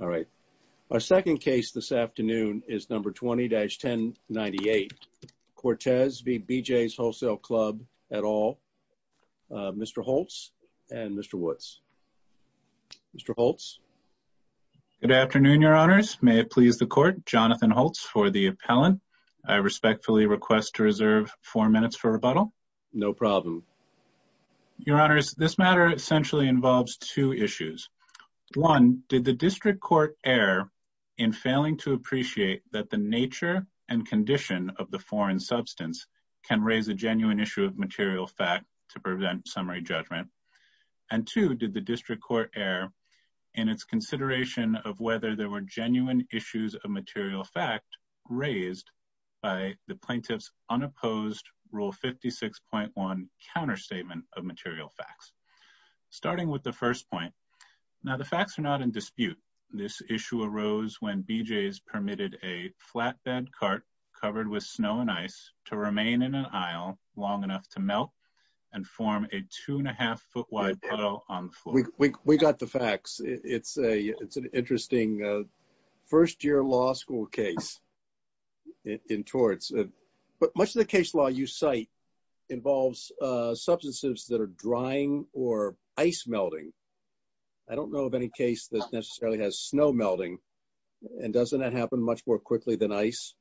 All right. Our second case this afternoon is number 20-1098, Cortes v. BJ's Wholesale Club, et al., Mr. Holtz and Mr. Woods. Mr. Holtz? Good afternoon, Your Honors. May it please the Court, Jonathan Holtz for the appellant. I respectfully request to reserve four minutes for rebuttal. No problem. Your Honors, this matter essentially involves two issues. One, did the District Court err in failing to appreciate that the nature and condition of the foreign substance can raise a genuine issue of material fact to prevent summary judgment? And two, did the District Court err in its consideration of whether there were genuine issues of material fact raised by the plaintiff's unopposed Rule 56.1 counterstatement of material facts? Starting with the first point, now the facts are not in dispute. This issue arose when BJ's permitted a flatbed cart covered with snow and ice to remain in an aisle long enough to melt and form a two-and-a-half-foot-wide puddle on the floor. We got the facts. It's an interesting first-year law school case in Torts. But much of the case law you cite involves substances that are drying or ice melting. I don't know of any case that necessarily has snow melting. And doesn't that happen much more quickly than ice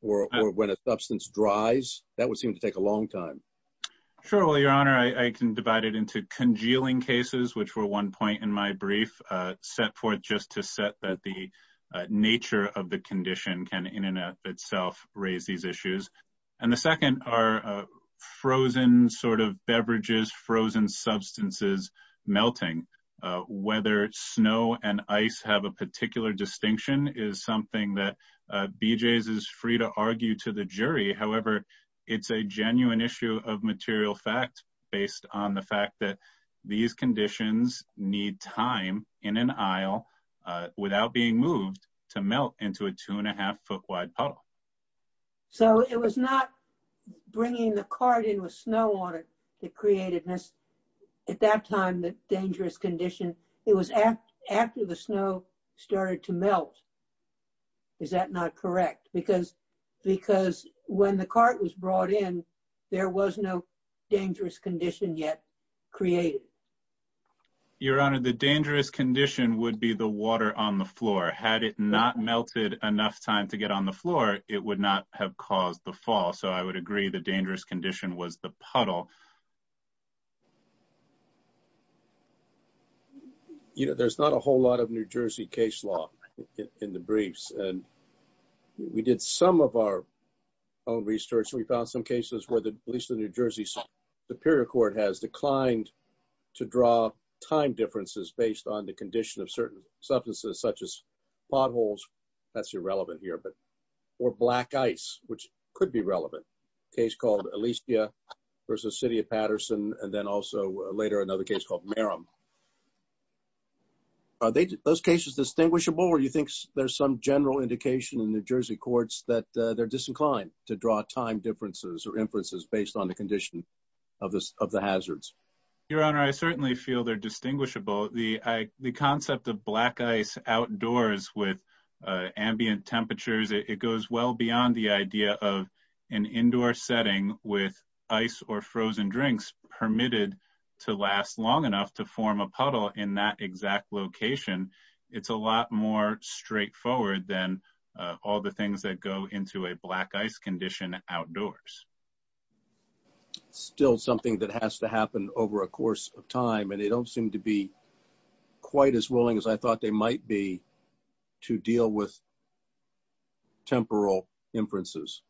or when a substance dries? That would seem to take a long time. Sure. Well, Your Honor, I can divide it into congealing cases, which were one point in my brief, set forth just to set that the nature of the condition can in and of itself raise these issues. And the second are frozen sort of beverages, frozen substances melting. Whether snow and ice have a particular distinction is something that BJ's is free to argue to the jury. However, it's a genuine issue of material fact based on the fact that these conditions need time in an aisle without being moved to melt into a two-and-a-half-foot-wide puddle. So it was not bringing the cart in with snow on it that created this, at that time, the dangerous condition. It was after the snow started to melt. Is that not correct? Because when the cart was brought in, there was no dangerous condition yet created. Your Honor, the dangerous condition would be the water on the floor. Had it not melted enough time to get on the floor, it would not have caused the fall. So I would agree the dangerous condition was the puddle. You know, there's not a whole lot of New Jersey case law in the briefs. And we did some of our own research. We found some cases where at least the New Jersey Superior Court has declined to draw time differences based on the condition of certain substances, such as potholes. That's irrelevant here. Or black ice, which could be relevant. A case called Alicia v. City of Patterson, and then also later another case called Merrim. Are those cases distinguishable, or do you think there's some general indication in New Jersey courts that they're disinclined to draw time differences or inferences based on the condition of the hazards? Your Honor, I certainly feel they're distinguishable. The concept of black ice outdoors with ambient temperatures, it goes well beyond the idea of an indoor setting with ice or frozen drinks permitted to last long enough to form a puddle in that exact location. It's a lot more straightforward than all the things that go into a black ice condition outdoors. It's still something that has to happen over a course of time, and they don't seem to be quite as willing as I thought they might be to deal with temporal inferences.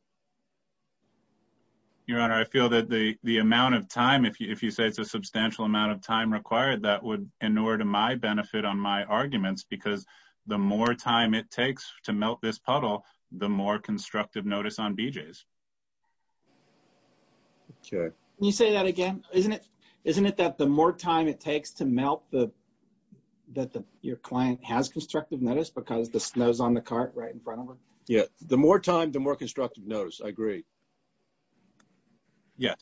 Your Honor, I feel that the amount of time, if you say it's a substantial amount of time required, that would inure to my benefit on my arguments, because the more time it takes to melt this puddle, the more constructive notice on BJs. Can you say that again? Isn't it that the more time it takes to melt that your client has constructive notice because the snow's on the cart right in front of her? Yeah. The more time, the more constructive notice. I agree. Yeah.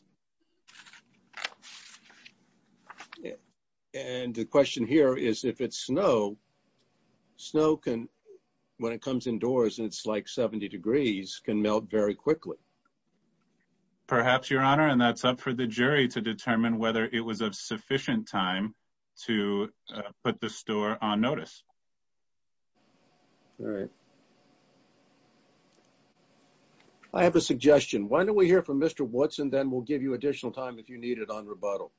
And the question here is if it's snow, snow can, when it comes indoors and it's like 70 degrees, can melt very quickly. Perhaps, Your Honor, and that's up for the jury to determine whether it was of sufficient time to put the store on notice. All right. I have a suggestion. Why don't we hear from Mr. Watson, then we'll give you additional time if you need it on rebuttal.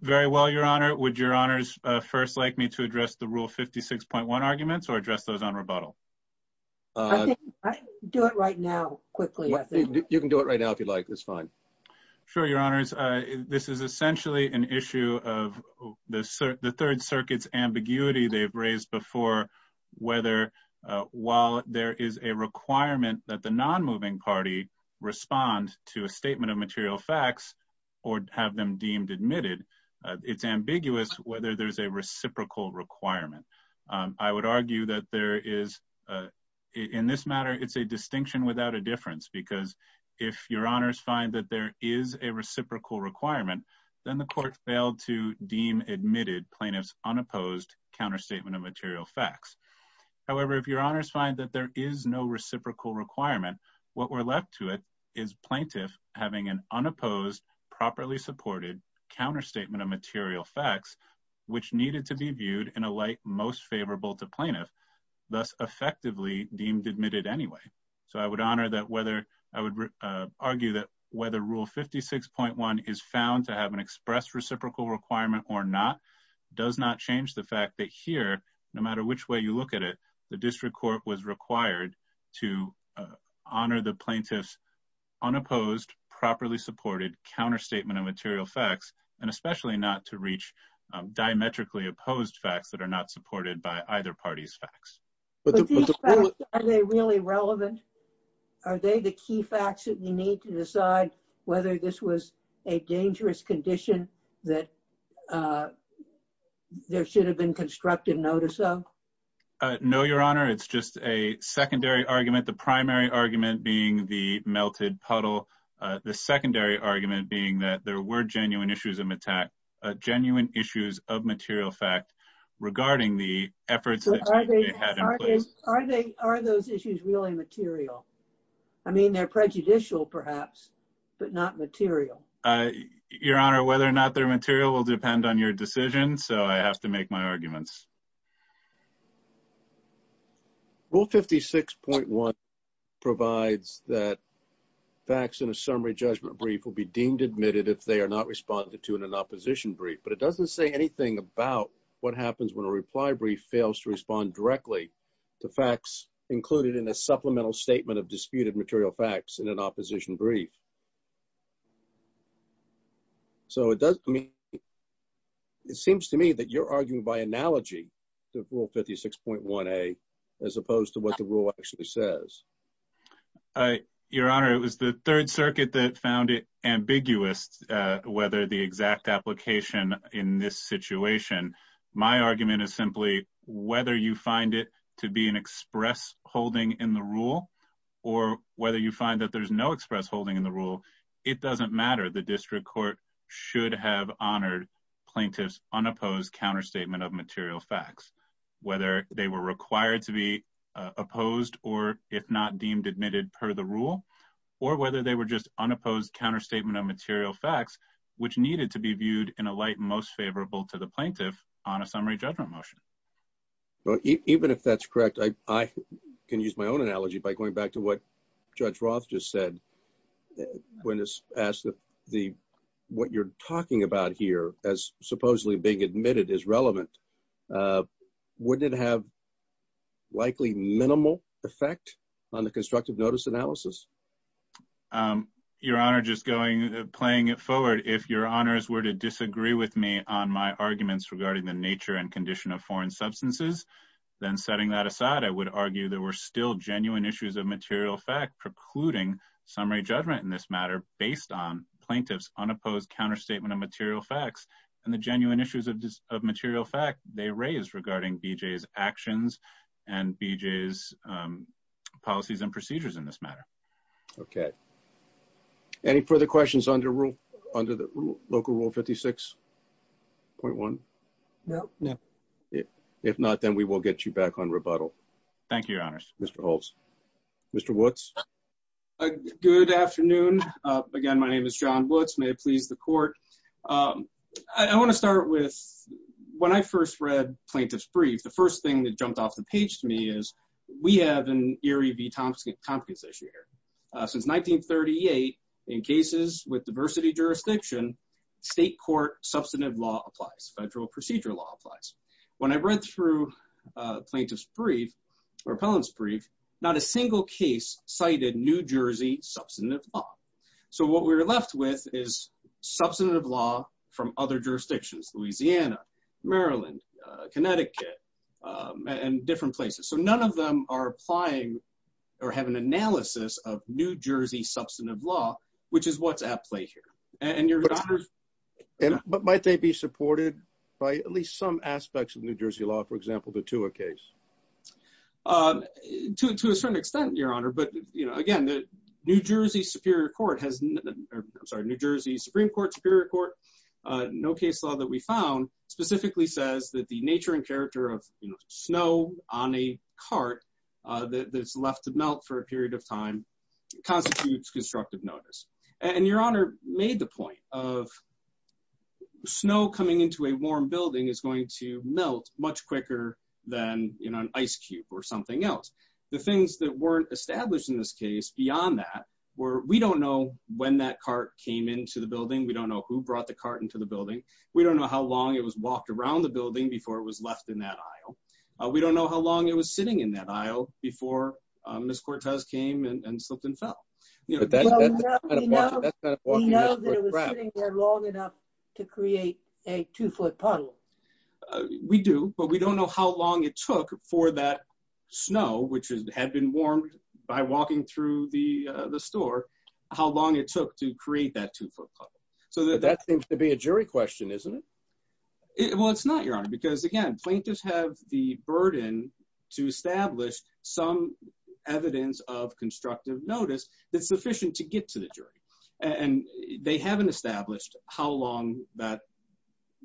Very well, Your Honor. Would Your Honors first like me to address the Rule 56.1 arguments or address those on rebuttal? Do it right now, quickly. You can do it right now if you'd like. It's fine. Sure, Your Honors. This is essentially an issue of the Third Circuit's ambiguity they've raised before whether while there is a requirement that the non-moving party respond to a statement of material facts or have them deemed admitted, it's ambiguous whether there's a reciprocal requirement. I would argue that there is, in this matter, it's a distinction without a difference because if Your Honors find that there is a reciprocal requirement, then the court failed to deem admitted plaintiff's unopposed counterstatement of material facts. However, if Your Honors find that there is no reciprocal requirement, what we're left to it is plaintiff having an unopposed properly supported counterstatement of material facts, which needed to be viewed in a light most favorable to plaintiff, thus effectively deemed admitted anyway. So I would argue that whether Rule 56.1 is found to have an express reciprocal requirement or not does not change the fact that here, no matter which way you look at it, the district court was required to honor the plaintiff's unopposed properly supported counterstatement of material facts, and especially not to reach diametrically opposed facts that are not supported by either party's facts. But these facts, are they really relevant? Are they the key facts that we need to decide whether this was a dangerous condition that there should have been constructive notice of? No, Your Honor. It's just a secondary argument. The primary argument being the melted puddle. The secondary argument being that there were genuine issues of material fact regarding the efforts that they had in place. Are those issues really material? I mean, they're prejudicial, perhaps, but not material. Your Honor, whether or not they're material will depend on your decision, so I have to make my arguments. Rule 56.1 provides that facts in a summary judgment brief will be deemed admitted if they are not responded to in an opposition brief, but it doesn't say anything about what happens when a reply brief fails to respond directly to facts included in a supplemental statement of disputed material facts in an opposition brief. So it seems to me that you're arguing by analogy to Rule 56.1A as opposed to what the rule actually says. Your Honor, it was the Third Circuit that found it ambiguous whether the exact application in this situation. My argument is simply whether you find it to be an express holding in the rule or whether you find that there's no express holding in the rule, it doesn't matter. should have honored plaintiff's unopposed counterstatement of material facts, whether they were required to be opposed or if not deemed admitted per the rule, or whether they were just unopposed counterstatement of material facts, which needed to be viewed in a light most favorable to the plaintiff on a summary judgment motion. Even if that's correct, I can use my own analogy by going back to what Judge Roth just said. When asked what you're talking about here as supposedly being admitted is relevant, wouldn't it have likely minimal effect on the constructive notice analysis? Your Honor, just playing it forward, if your honors were to disagree with me on my arguments regarding the nature and condition of foreign substances, then setting that aside, I would argue there were still genuine issues of material fact precluding summary judgment in this matter based on plaintiff's unopposed counterstatement of material facts and the genuine issues of material fact they raise regarding BJ's actions and BJ's policies and procedures in this matter. Okay. Any further questions under the local rule 56.1? No. If not, then we will get you back on rebuttal. Thank you, your honors. Mr. Holtz. Mr. Woods? Good afternoon. Again, my name is John Woods. May it please the court. I want to start with when I first read plaintiff's brief, the first thing that jumped off the page to me is we have an Erie v. Tompkins issue here. Since 1938, in cases with diversity jurisdiction, state court substantive law applies. Federal procedure law applies. When I read through plaintiff's brief or appellant's brief, not a single case cited New Jersey substantive law. So what we're left with is substantive law from other jurisdictions, Louisiana, Maryland, Connecticut, and different places. So none of them are applying or have an analysis of New Jersey substantive law, which is what's at play here. But might they be supported by at least some aspects of New Jersey law, for example, the Tua case? To a certain extent, your honor. But, you know, again, the New Jersey Supreme Court, Superior Court, no case law that we found specifically says that the nature and character of snow on a cart that's left to melt for a period of time constitutes constructive notice. And your honor made the point of snow coming into a warm building is going to melt much quicker than an ice cube or something else. The things that weren't established in this case beyond that were we don't know when that cart came into the building. We don't know who brought the cart into the building. We don't know how long it was walked around the building before it was left in that aisle. We don't know how long it was sitting in that aisle before Ms. Cortez came and slipped and fell. We know that it was sitting there long enough to create a two foot puddle. We do, but we don't know how long it took for that snow, which had been warmed by walking through the store, how long it took to create that two foot puddle. So that seems to be a jury question, isn't it? Well, it's not, your honor, because again, plaintiffs have the burden to establish some evidence of constructive notice that's sufficient to get to the jury. And they haven't established how long that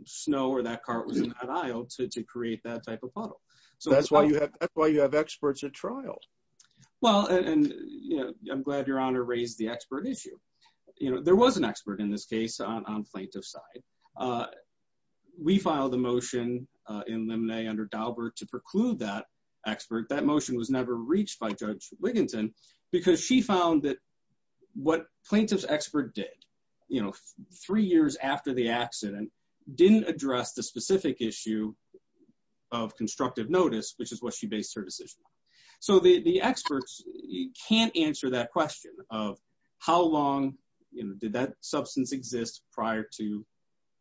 snow or that cart was in that aisle to create that type of puddle. So that's why you have that's why you have experts at trial. Well, and I'm glad your honor raised the expert issue. You know, there was an expert in this case on plaintiff's side. We filed a motion in limine under Daubert to preclude that expert. That motion was never reached by Judge Wigginton because she found that what plaintiff's expert did, you know, three years after the accident, didn't address the specific issue of constructive notice, which is what she based her decision on. So the experts can't answer that question of how long did that substance exist prior to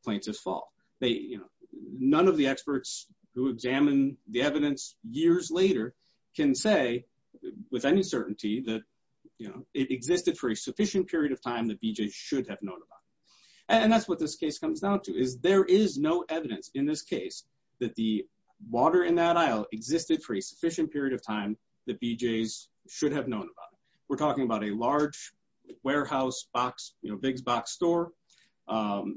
plaintiff's fault. They, you know, none of the experts who examine the evidence years later can say with any certainty that, you know, it existed for a sufficient period of time that BJ should have known about. And that's what this case comes down to is there is no evidence in this case that the water in that aisle existed for a sufficient period of time that BJ's should have known about. We're talking about a large warehouse box, you know, big box store.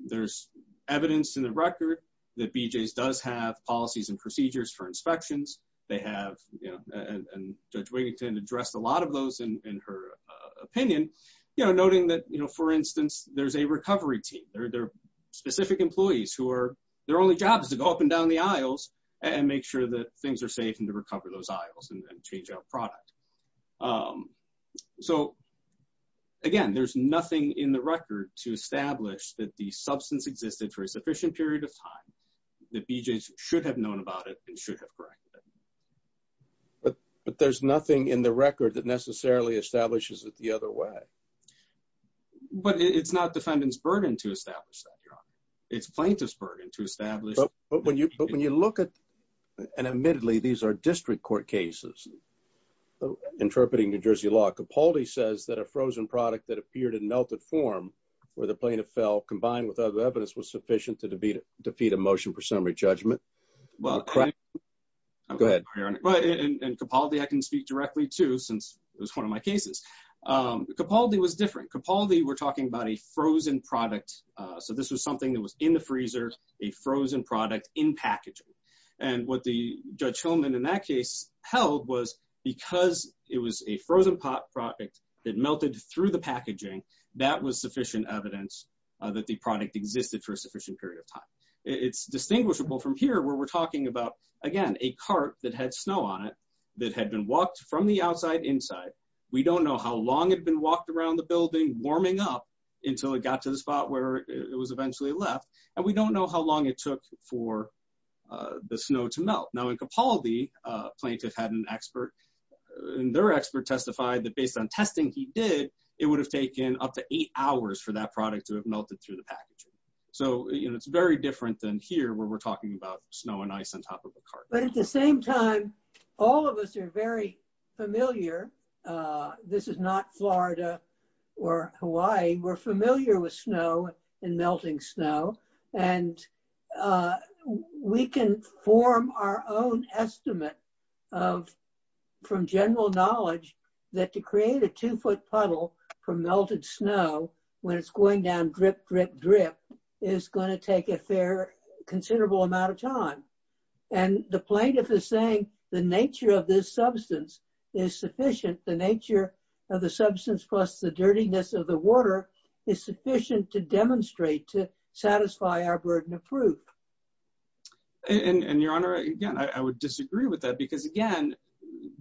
There's evidence in the record that BJ's does have policies and procedures for inspections. They have, you know, and Judge Wigginton addressed a lot of those in her opinion, you know, noting that, you know, for instance, there's a recovery team. There are specific employees who are, their only job is to go up and down the aisles and make sure that things are safe and to recover those aisles and change our product. So, again, there's nothing in the record to establish that the substance existed for a sufficient period of time that BJ's should have known about it and should have corrected it. But there's nothing in the record that necessarily establishes it the other way. But it's not defendant's burden to establish that, Your Honor. It's plaintiff's burden to establish. But when you look at, and admittedly, these are district court cases interpreting New Jersey law. Capaldi says that a frozen product that appeared in melted form for the plaintiff fell combined with other evidence was sufficient to defeat a motion for summary judgment. Well, and Capaldi, I can speak directly to since it was one of my cases. Capaldi was different. Capaldi, we're talking about a frozen product. So this was something that was in the freezer, a frozen product in packaging. And what the Judge Hillman in that case held was because it was a frozen product that melted through the packaging, that was sufficient evidence that the product existed for a sufficient period of time. It's distinguishable from here where we're talking about, again, a cart that had snow on it that had been walked from the outside inside. But we don't know how long it had been walked around the building warming up until it got to the spot where it was eventually left. And we don't know how long it took for the snow to melt. Now, in Capaldi, a plaintiff had an expert, and their expert testified that based on testing he did, it would have taken up to eight hours for that product to have melted through the packaging. So, you know, it's very different than here where we're talking about snow and ice on top of a cart. But at the same time, all of us are very familiar. This is not Florida or Hawaii. We're familiar with snow and melting snow. And we can form our own estimate from general knowledge that to create a two-foot puddle from melted snow, when it's going down drip, drip, drip, is going to take a fair considerable amount of time. And the plaintiff is saying the nature of this substance is sufficient. The nature of the substance plus the dirtiness of the water is sufficient to demonstrate, to satisfy our burden of proof. And, Your Honor, again, I would disagree with that because, again,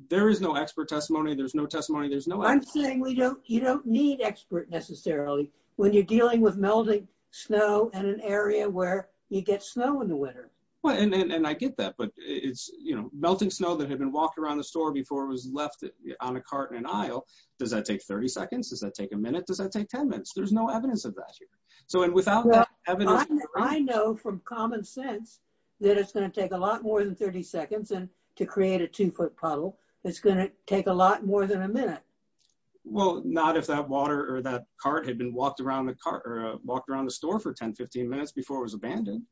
there is no expert testimony. There's no testimony. I'm saying you don't need expert necessarily when you're dealing with melting snow in an area where you get snow in the winter. Well, and I get that, but it's, you know, melting snow that had been walked around the store before it was left on a cart in an aisle. Does that take 30 seconds? Does that take a minute? Does that take 10 minutes? There's no evidence of that here. So, and without that evidence. I know from common sense that it's going to take a lot more than 30 seconds to create a two-foot puddle. It's going to take a lot more than a minute. Well, not if that water or that cart had been walked around the store for 10, 15 minutes before it was abandoned.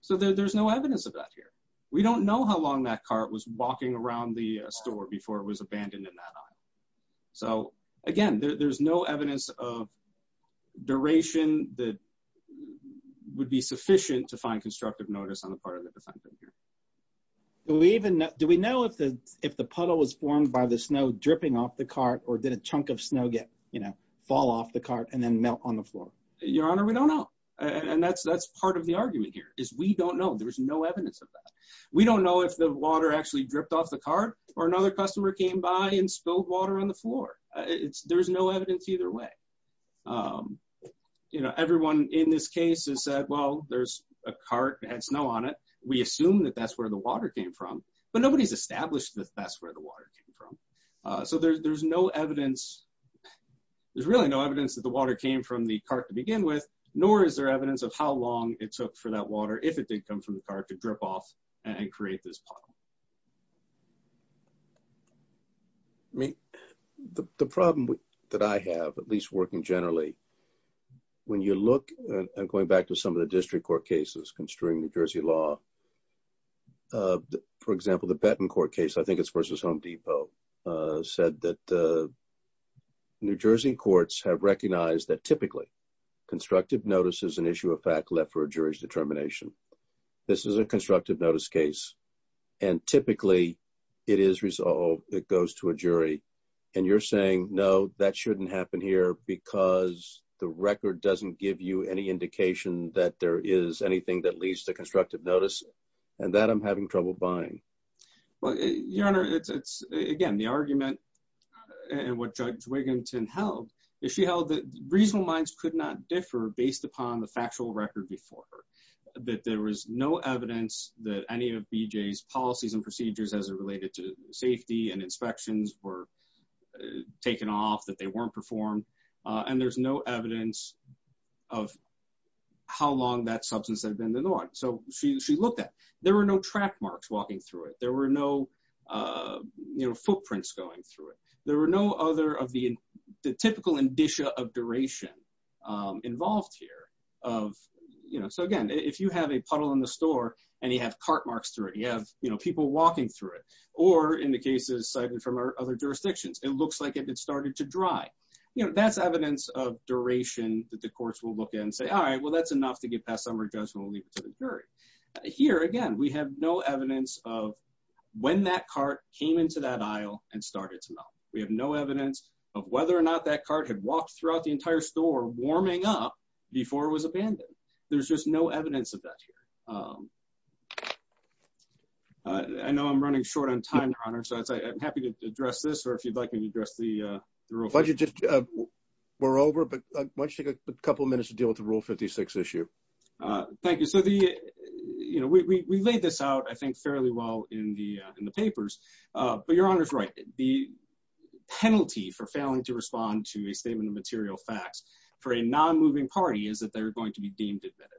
So, there's no evidence of that here. We don't know how long that cart was walking around the store before it was abandoned in that aisle. So, again, there's no evidence of duration that would be sufficient to find constructive notice on the part of the defendant here. Do we even know, do we know if the puddle was formed by the snow dripping off the cart or did a chunk of snow get, you know, fall off the cart and then melt on the floor? Your Honor, we don't know. And that's part of the argument here is we don't know. There's no evidence of that. We don't know if the water actually dripped off the cart or another customer came by and spilled water on the floor. There's no evidence either way. You know, everyone in this case has said, well, there's a cart that had snow on it. We assume that that's where the water came from. But nobody's established that that's where the water came from. So, there's no evidence, there's really no evidence that the water came from the cart to begin with, nor is there evidence of how long it took for that water, if it did come from the cart, to drip off and create this puddle. I mean, the problem that I have, at least working generally, when you look at going back to some of the district court cases concerning New Jersey law, for example, the Benton Court case, I think it's versus Home Depot, said that New Jersey courts have recognized that typically constructive notice is an issue of fact left for a jury's determination. This is a constructive notice case. And typically, it is resolved, it goes to a jury. And you're saying, no, that shouldn't happen here because the record doesn't give you any indication that there is anything that leads to constructive notice, and that I'm having trouble buying. Well, Your Honor, it's, again, the argument, and what Judge Wigginton held, is she held that reasonable minds could not differ based upon the factual record before her. That there was no evidence that any of BJ's policies and procedures as it related to safety and inspections were taken off, that they weren't performed. And there's no evidence of how long that substance had been ignored. So she looked at, there were no track marks walking through it. There were no, you know, footprints going through it. There were no other of the typical indicia of duration involved here of, you know, so again, if you have a puddle in the store, and you have cart marks through it, you have, you know, people walking through it, or in the cases cited from other jurisdictions, it looks like it started to dry. You know, that's evidence of duration that the courts will look at and say, all right, well, that's enough to get past summary judgment, we'll leave it to the jury. Here, again, we have no evidence of when that cart came into that aisle and started to melt. We have no evidence of whether or not that cart had walked throughout the entire store warming up before it was abandoned. There's just no evidence of that here. I know I'm running short on time, Your Honor, so I'm happy to address this, or if you'd like me to address the real question. Why don't you just, we're over, but why don't you take a couple minutes to deal with the Rule 56 issue? Thank you. So the, you know, we laid this out, I think, fairly well in the papers, but Your Honor's right. The penalty for failing to respond to a statement of material facts for a non-moving party is that they're going to be deemed admitted.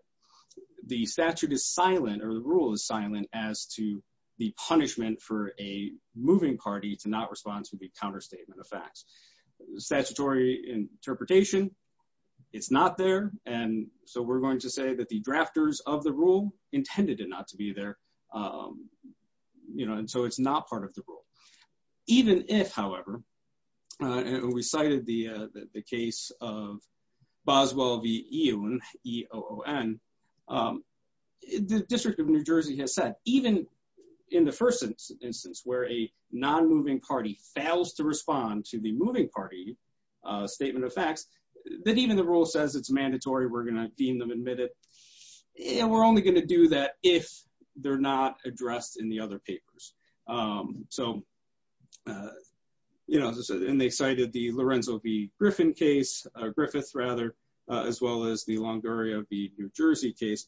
The statute is silent, or the rule is silent, as to the punishment for a moving party to not respond to the counterstatement of facts. Statutory interpretation, it's not there, and so we're going to say that the drafters of the rule intended it not to be there, you know, and so it's not part of the rule. Even if, however, and we cited the case of Boswell v. Eoon, the District of New Jersey has said, even in the first instance where a non-moving party fails to respond to the moving party statement of facts, that even the rule says it's mandatory, we're going to deem them admitted. And we're only going to do that if they're not addressed in the other papers. So, you know, and they cited the Lorenzo v. Griffin case, Griffith rather, as well as the Longoria v. New Jersey case.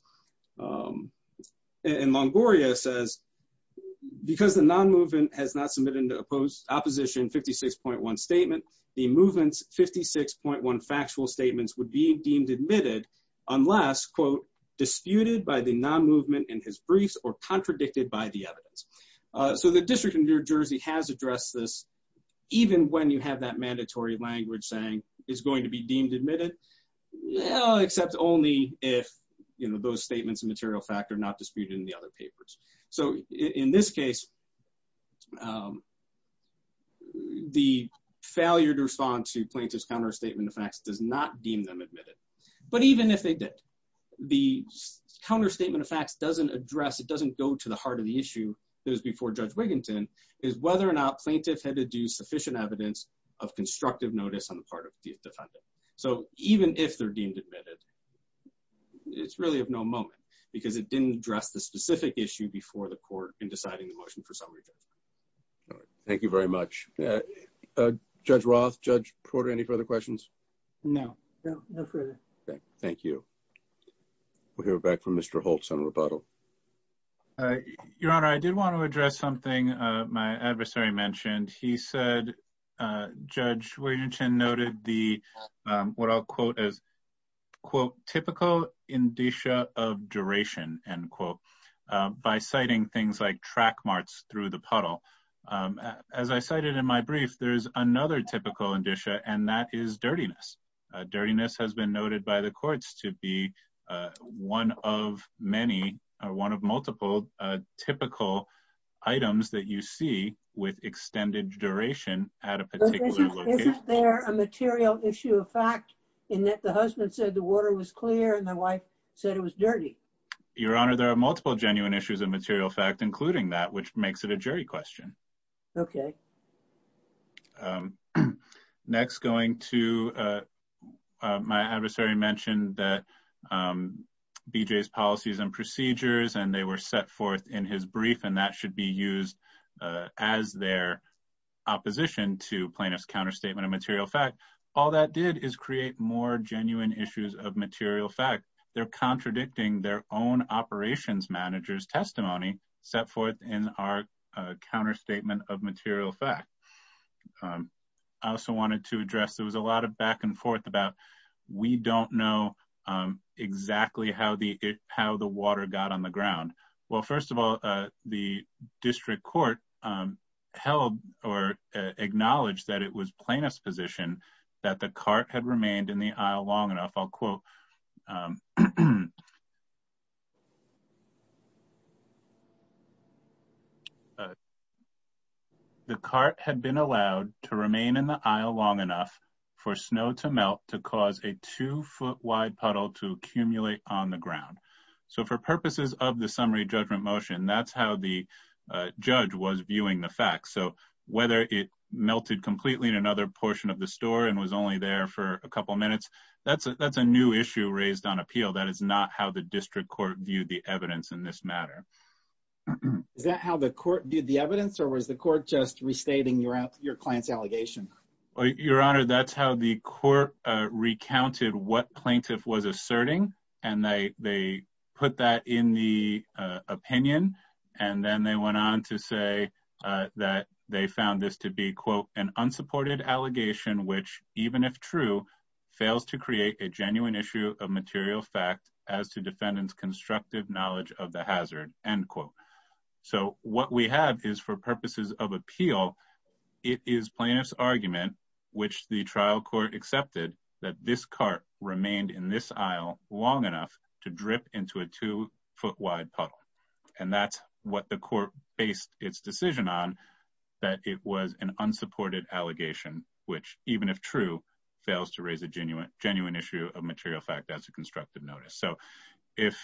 And Longoria says, because the non-movement has not submitted an opposition 56.1 statement, the movement's 56.1 factual statements would be deemed admitted unless, quote, disputed by the non-movement in his briefs or contradicted by the evidence. So the District of New Jersey has addressed this, even when you have that mandatory language saying it's going to be deemed admitted, except only if, you know, those statements of material fact are not disputed in the other papers. So in this case, the failure to respond to plaintiff's counterstatement of facts does not deem them admitted. But even if they did, the counterstatement of facts doesn't address, it doesn't go to the heart of the issue that was before Judge Wiginton, is whether or not plaintiff had to do sufficient evidence of constructive notice on the part of the defendant. So even if they're deemed admitted, it's really of no moment, because it didn't address the specific issue before the court in deciding the motion for summary judgment. Thank you very much. Judge Roth, Judge Porter, any further questions? No. No, no further. Thank you. We'll hear back from Mr. Holtz on rebuttal. Your Honor, I did want to address something my adversary mentioned. He said Judge Wiginton noted the, what I'll quote as, quote, typical indicia of duration, end quote, by citing things like track marks through the puddle. As I cited in my brief, there's another typical indicia, and that is dirtiness. Dirtiness has been noted by the courts to be one of many, or one of multiple typical items that you see with extended duration at a particular location. Isn't there a material issue of fact in that the husband said the water was clear and the wife said it was dirty? Your Honor, there are multiple genuine issues of material fact, including that, which makes it a jury question. Okay. Next, going to my adversary mentioned that BJ's policies and procedures, and they were set forth in his brief, and that should be used as their opposition to plaintiff's counterstatement of material fact. All that did is create more genuine issues of material fact. They're contradicting their own operations manager's testimony set forth in our counterstatement of material fact. I also wanted to address, there was a lot of back and forth about we don't know exactly how the water got on the ground. Well, first of all, the district court held or acknowledged that it was plaintiff's position that the cart had remained in the aisle long enough, I'll quote, The cart had been allowed to remain in the aisle long enough for snow to melt to cause a two foot wide puddle to accumulate on the ground. So for purposes of the summary judgment motion, that's how the judge was viewing the facts. So whether it melted completely in another portion of the store and was only there for a couple minutes, that's a new issue raised on appeal. That is not how the district court viewed the evidence in this matter. Is that how the court did the evidence or was the court just restating your client's allegation? Your Honor, that's how the court recounted what plaintiff was asserting and they put that in the opinion. And then they went on to say that they found this to be, quote, an unsupported allegation, which, even if true, fails to create a genuine issue of material fact as to defendants constructive knowledge of the hazard, end quote. So what we have is for purposes of appeal, it is plaintiff's argument, which the trial court accepted that this cart remained in this aisle long enough to drip into a two foot wide puddle. And that's what the court based its decision on, that it was an unsupported allegation, which, even if true, fails to raise a genuine issue of material fact as a constructive notice. So if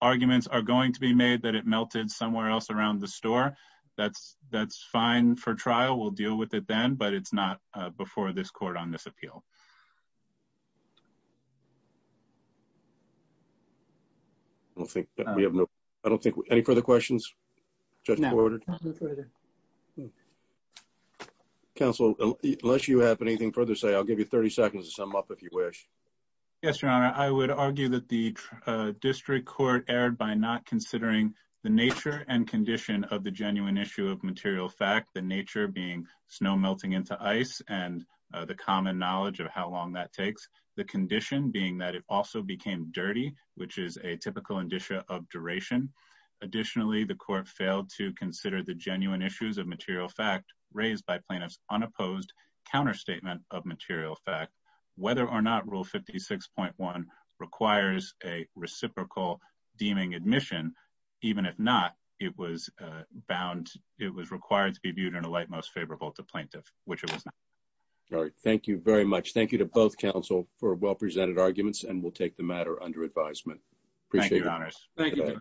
arguments are going to be made that it melted somewhere else around the store, that's fine for trial. We'll deal with it then, but it's not before this court on this appeal. I don't think we have any further questions. Counsel, unless you have anything further to say, I'll give you 30 seconds to sum up if you wish. Yes, Your Honor, I would argue that the district court erred by not considering the nature and condition of the genuine issue of material fact. The nature being snow melting into ice and the common knowledge of how long that takes. The condition being that it also became dirty, which is a typical indicia of duration. Additionally, the court failed to consider the genuine issues of material fact raised by plaintiff's unopposed counter statement of material fact. Whether or not Rule 56.1 requires a reciprocal deeming admission, even if not, it was required to be viewed in a light most favorable to plaintiff, which it was not. All right, thank you very much. Thank you to both counsel for well presented arguments, and we'll take the matter under advisement. Thank you. Thank you.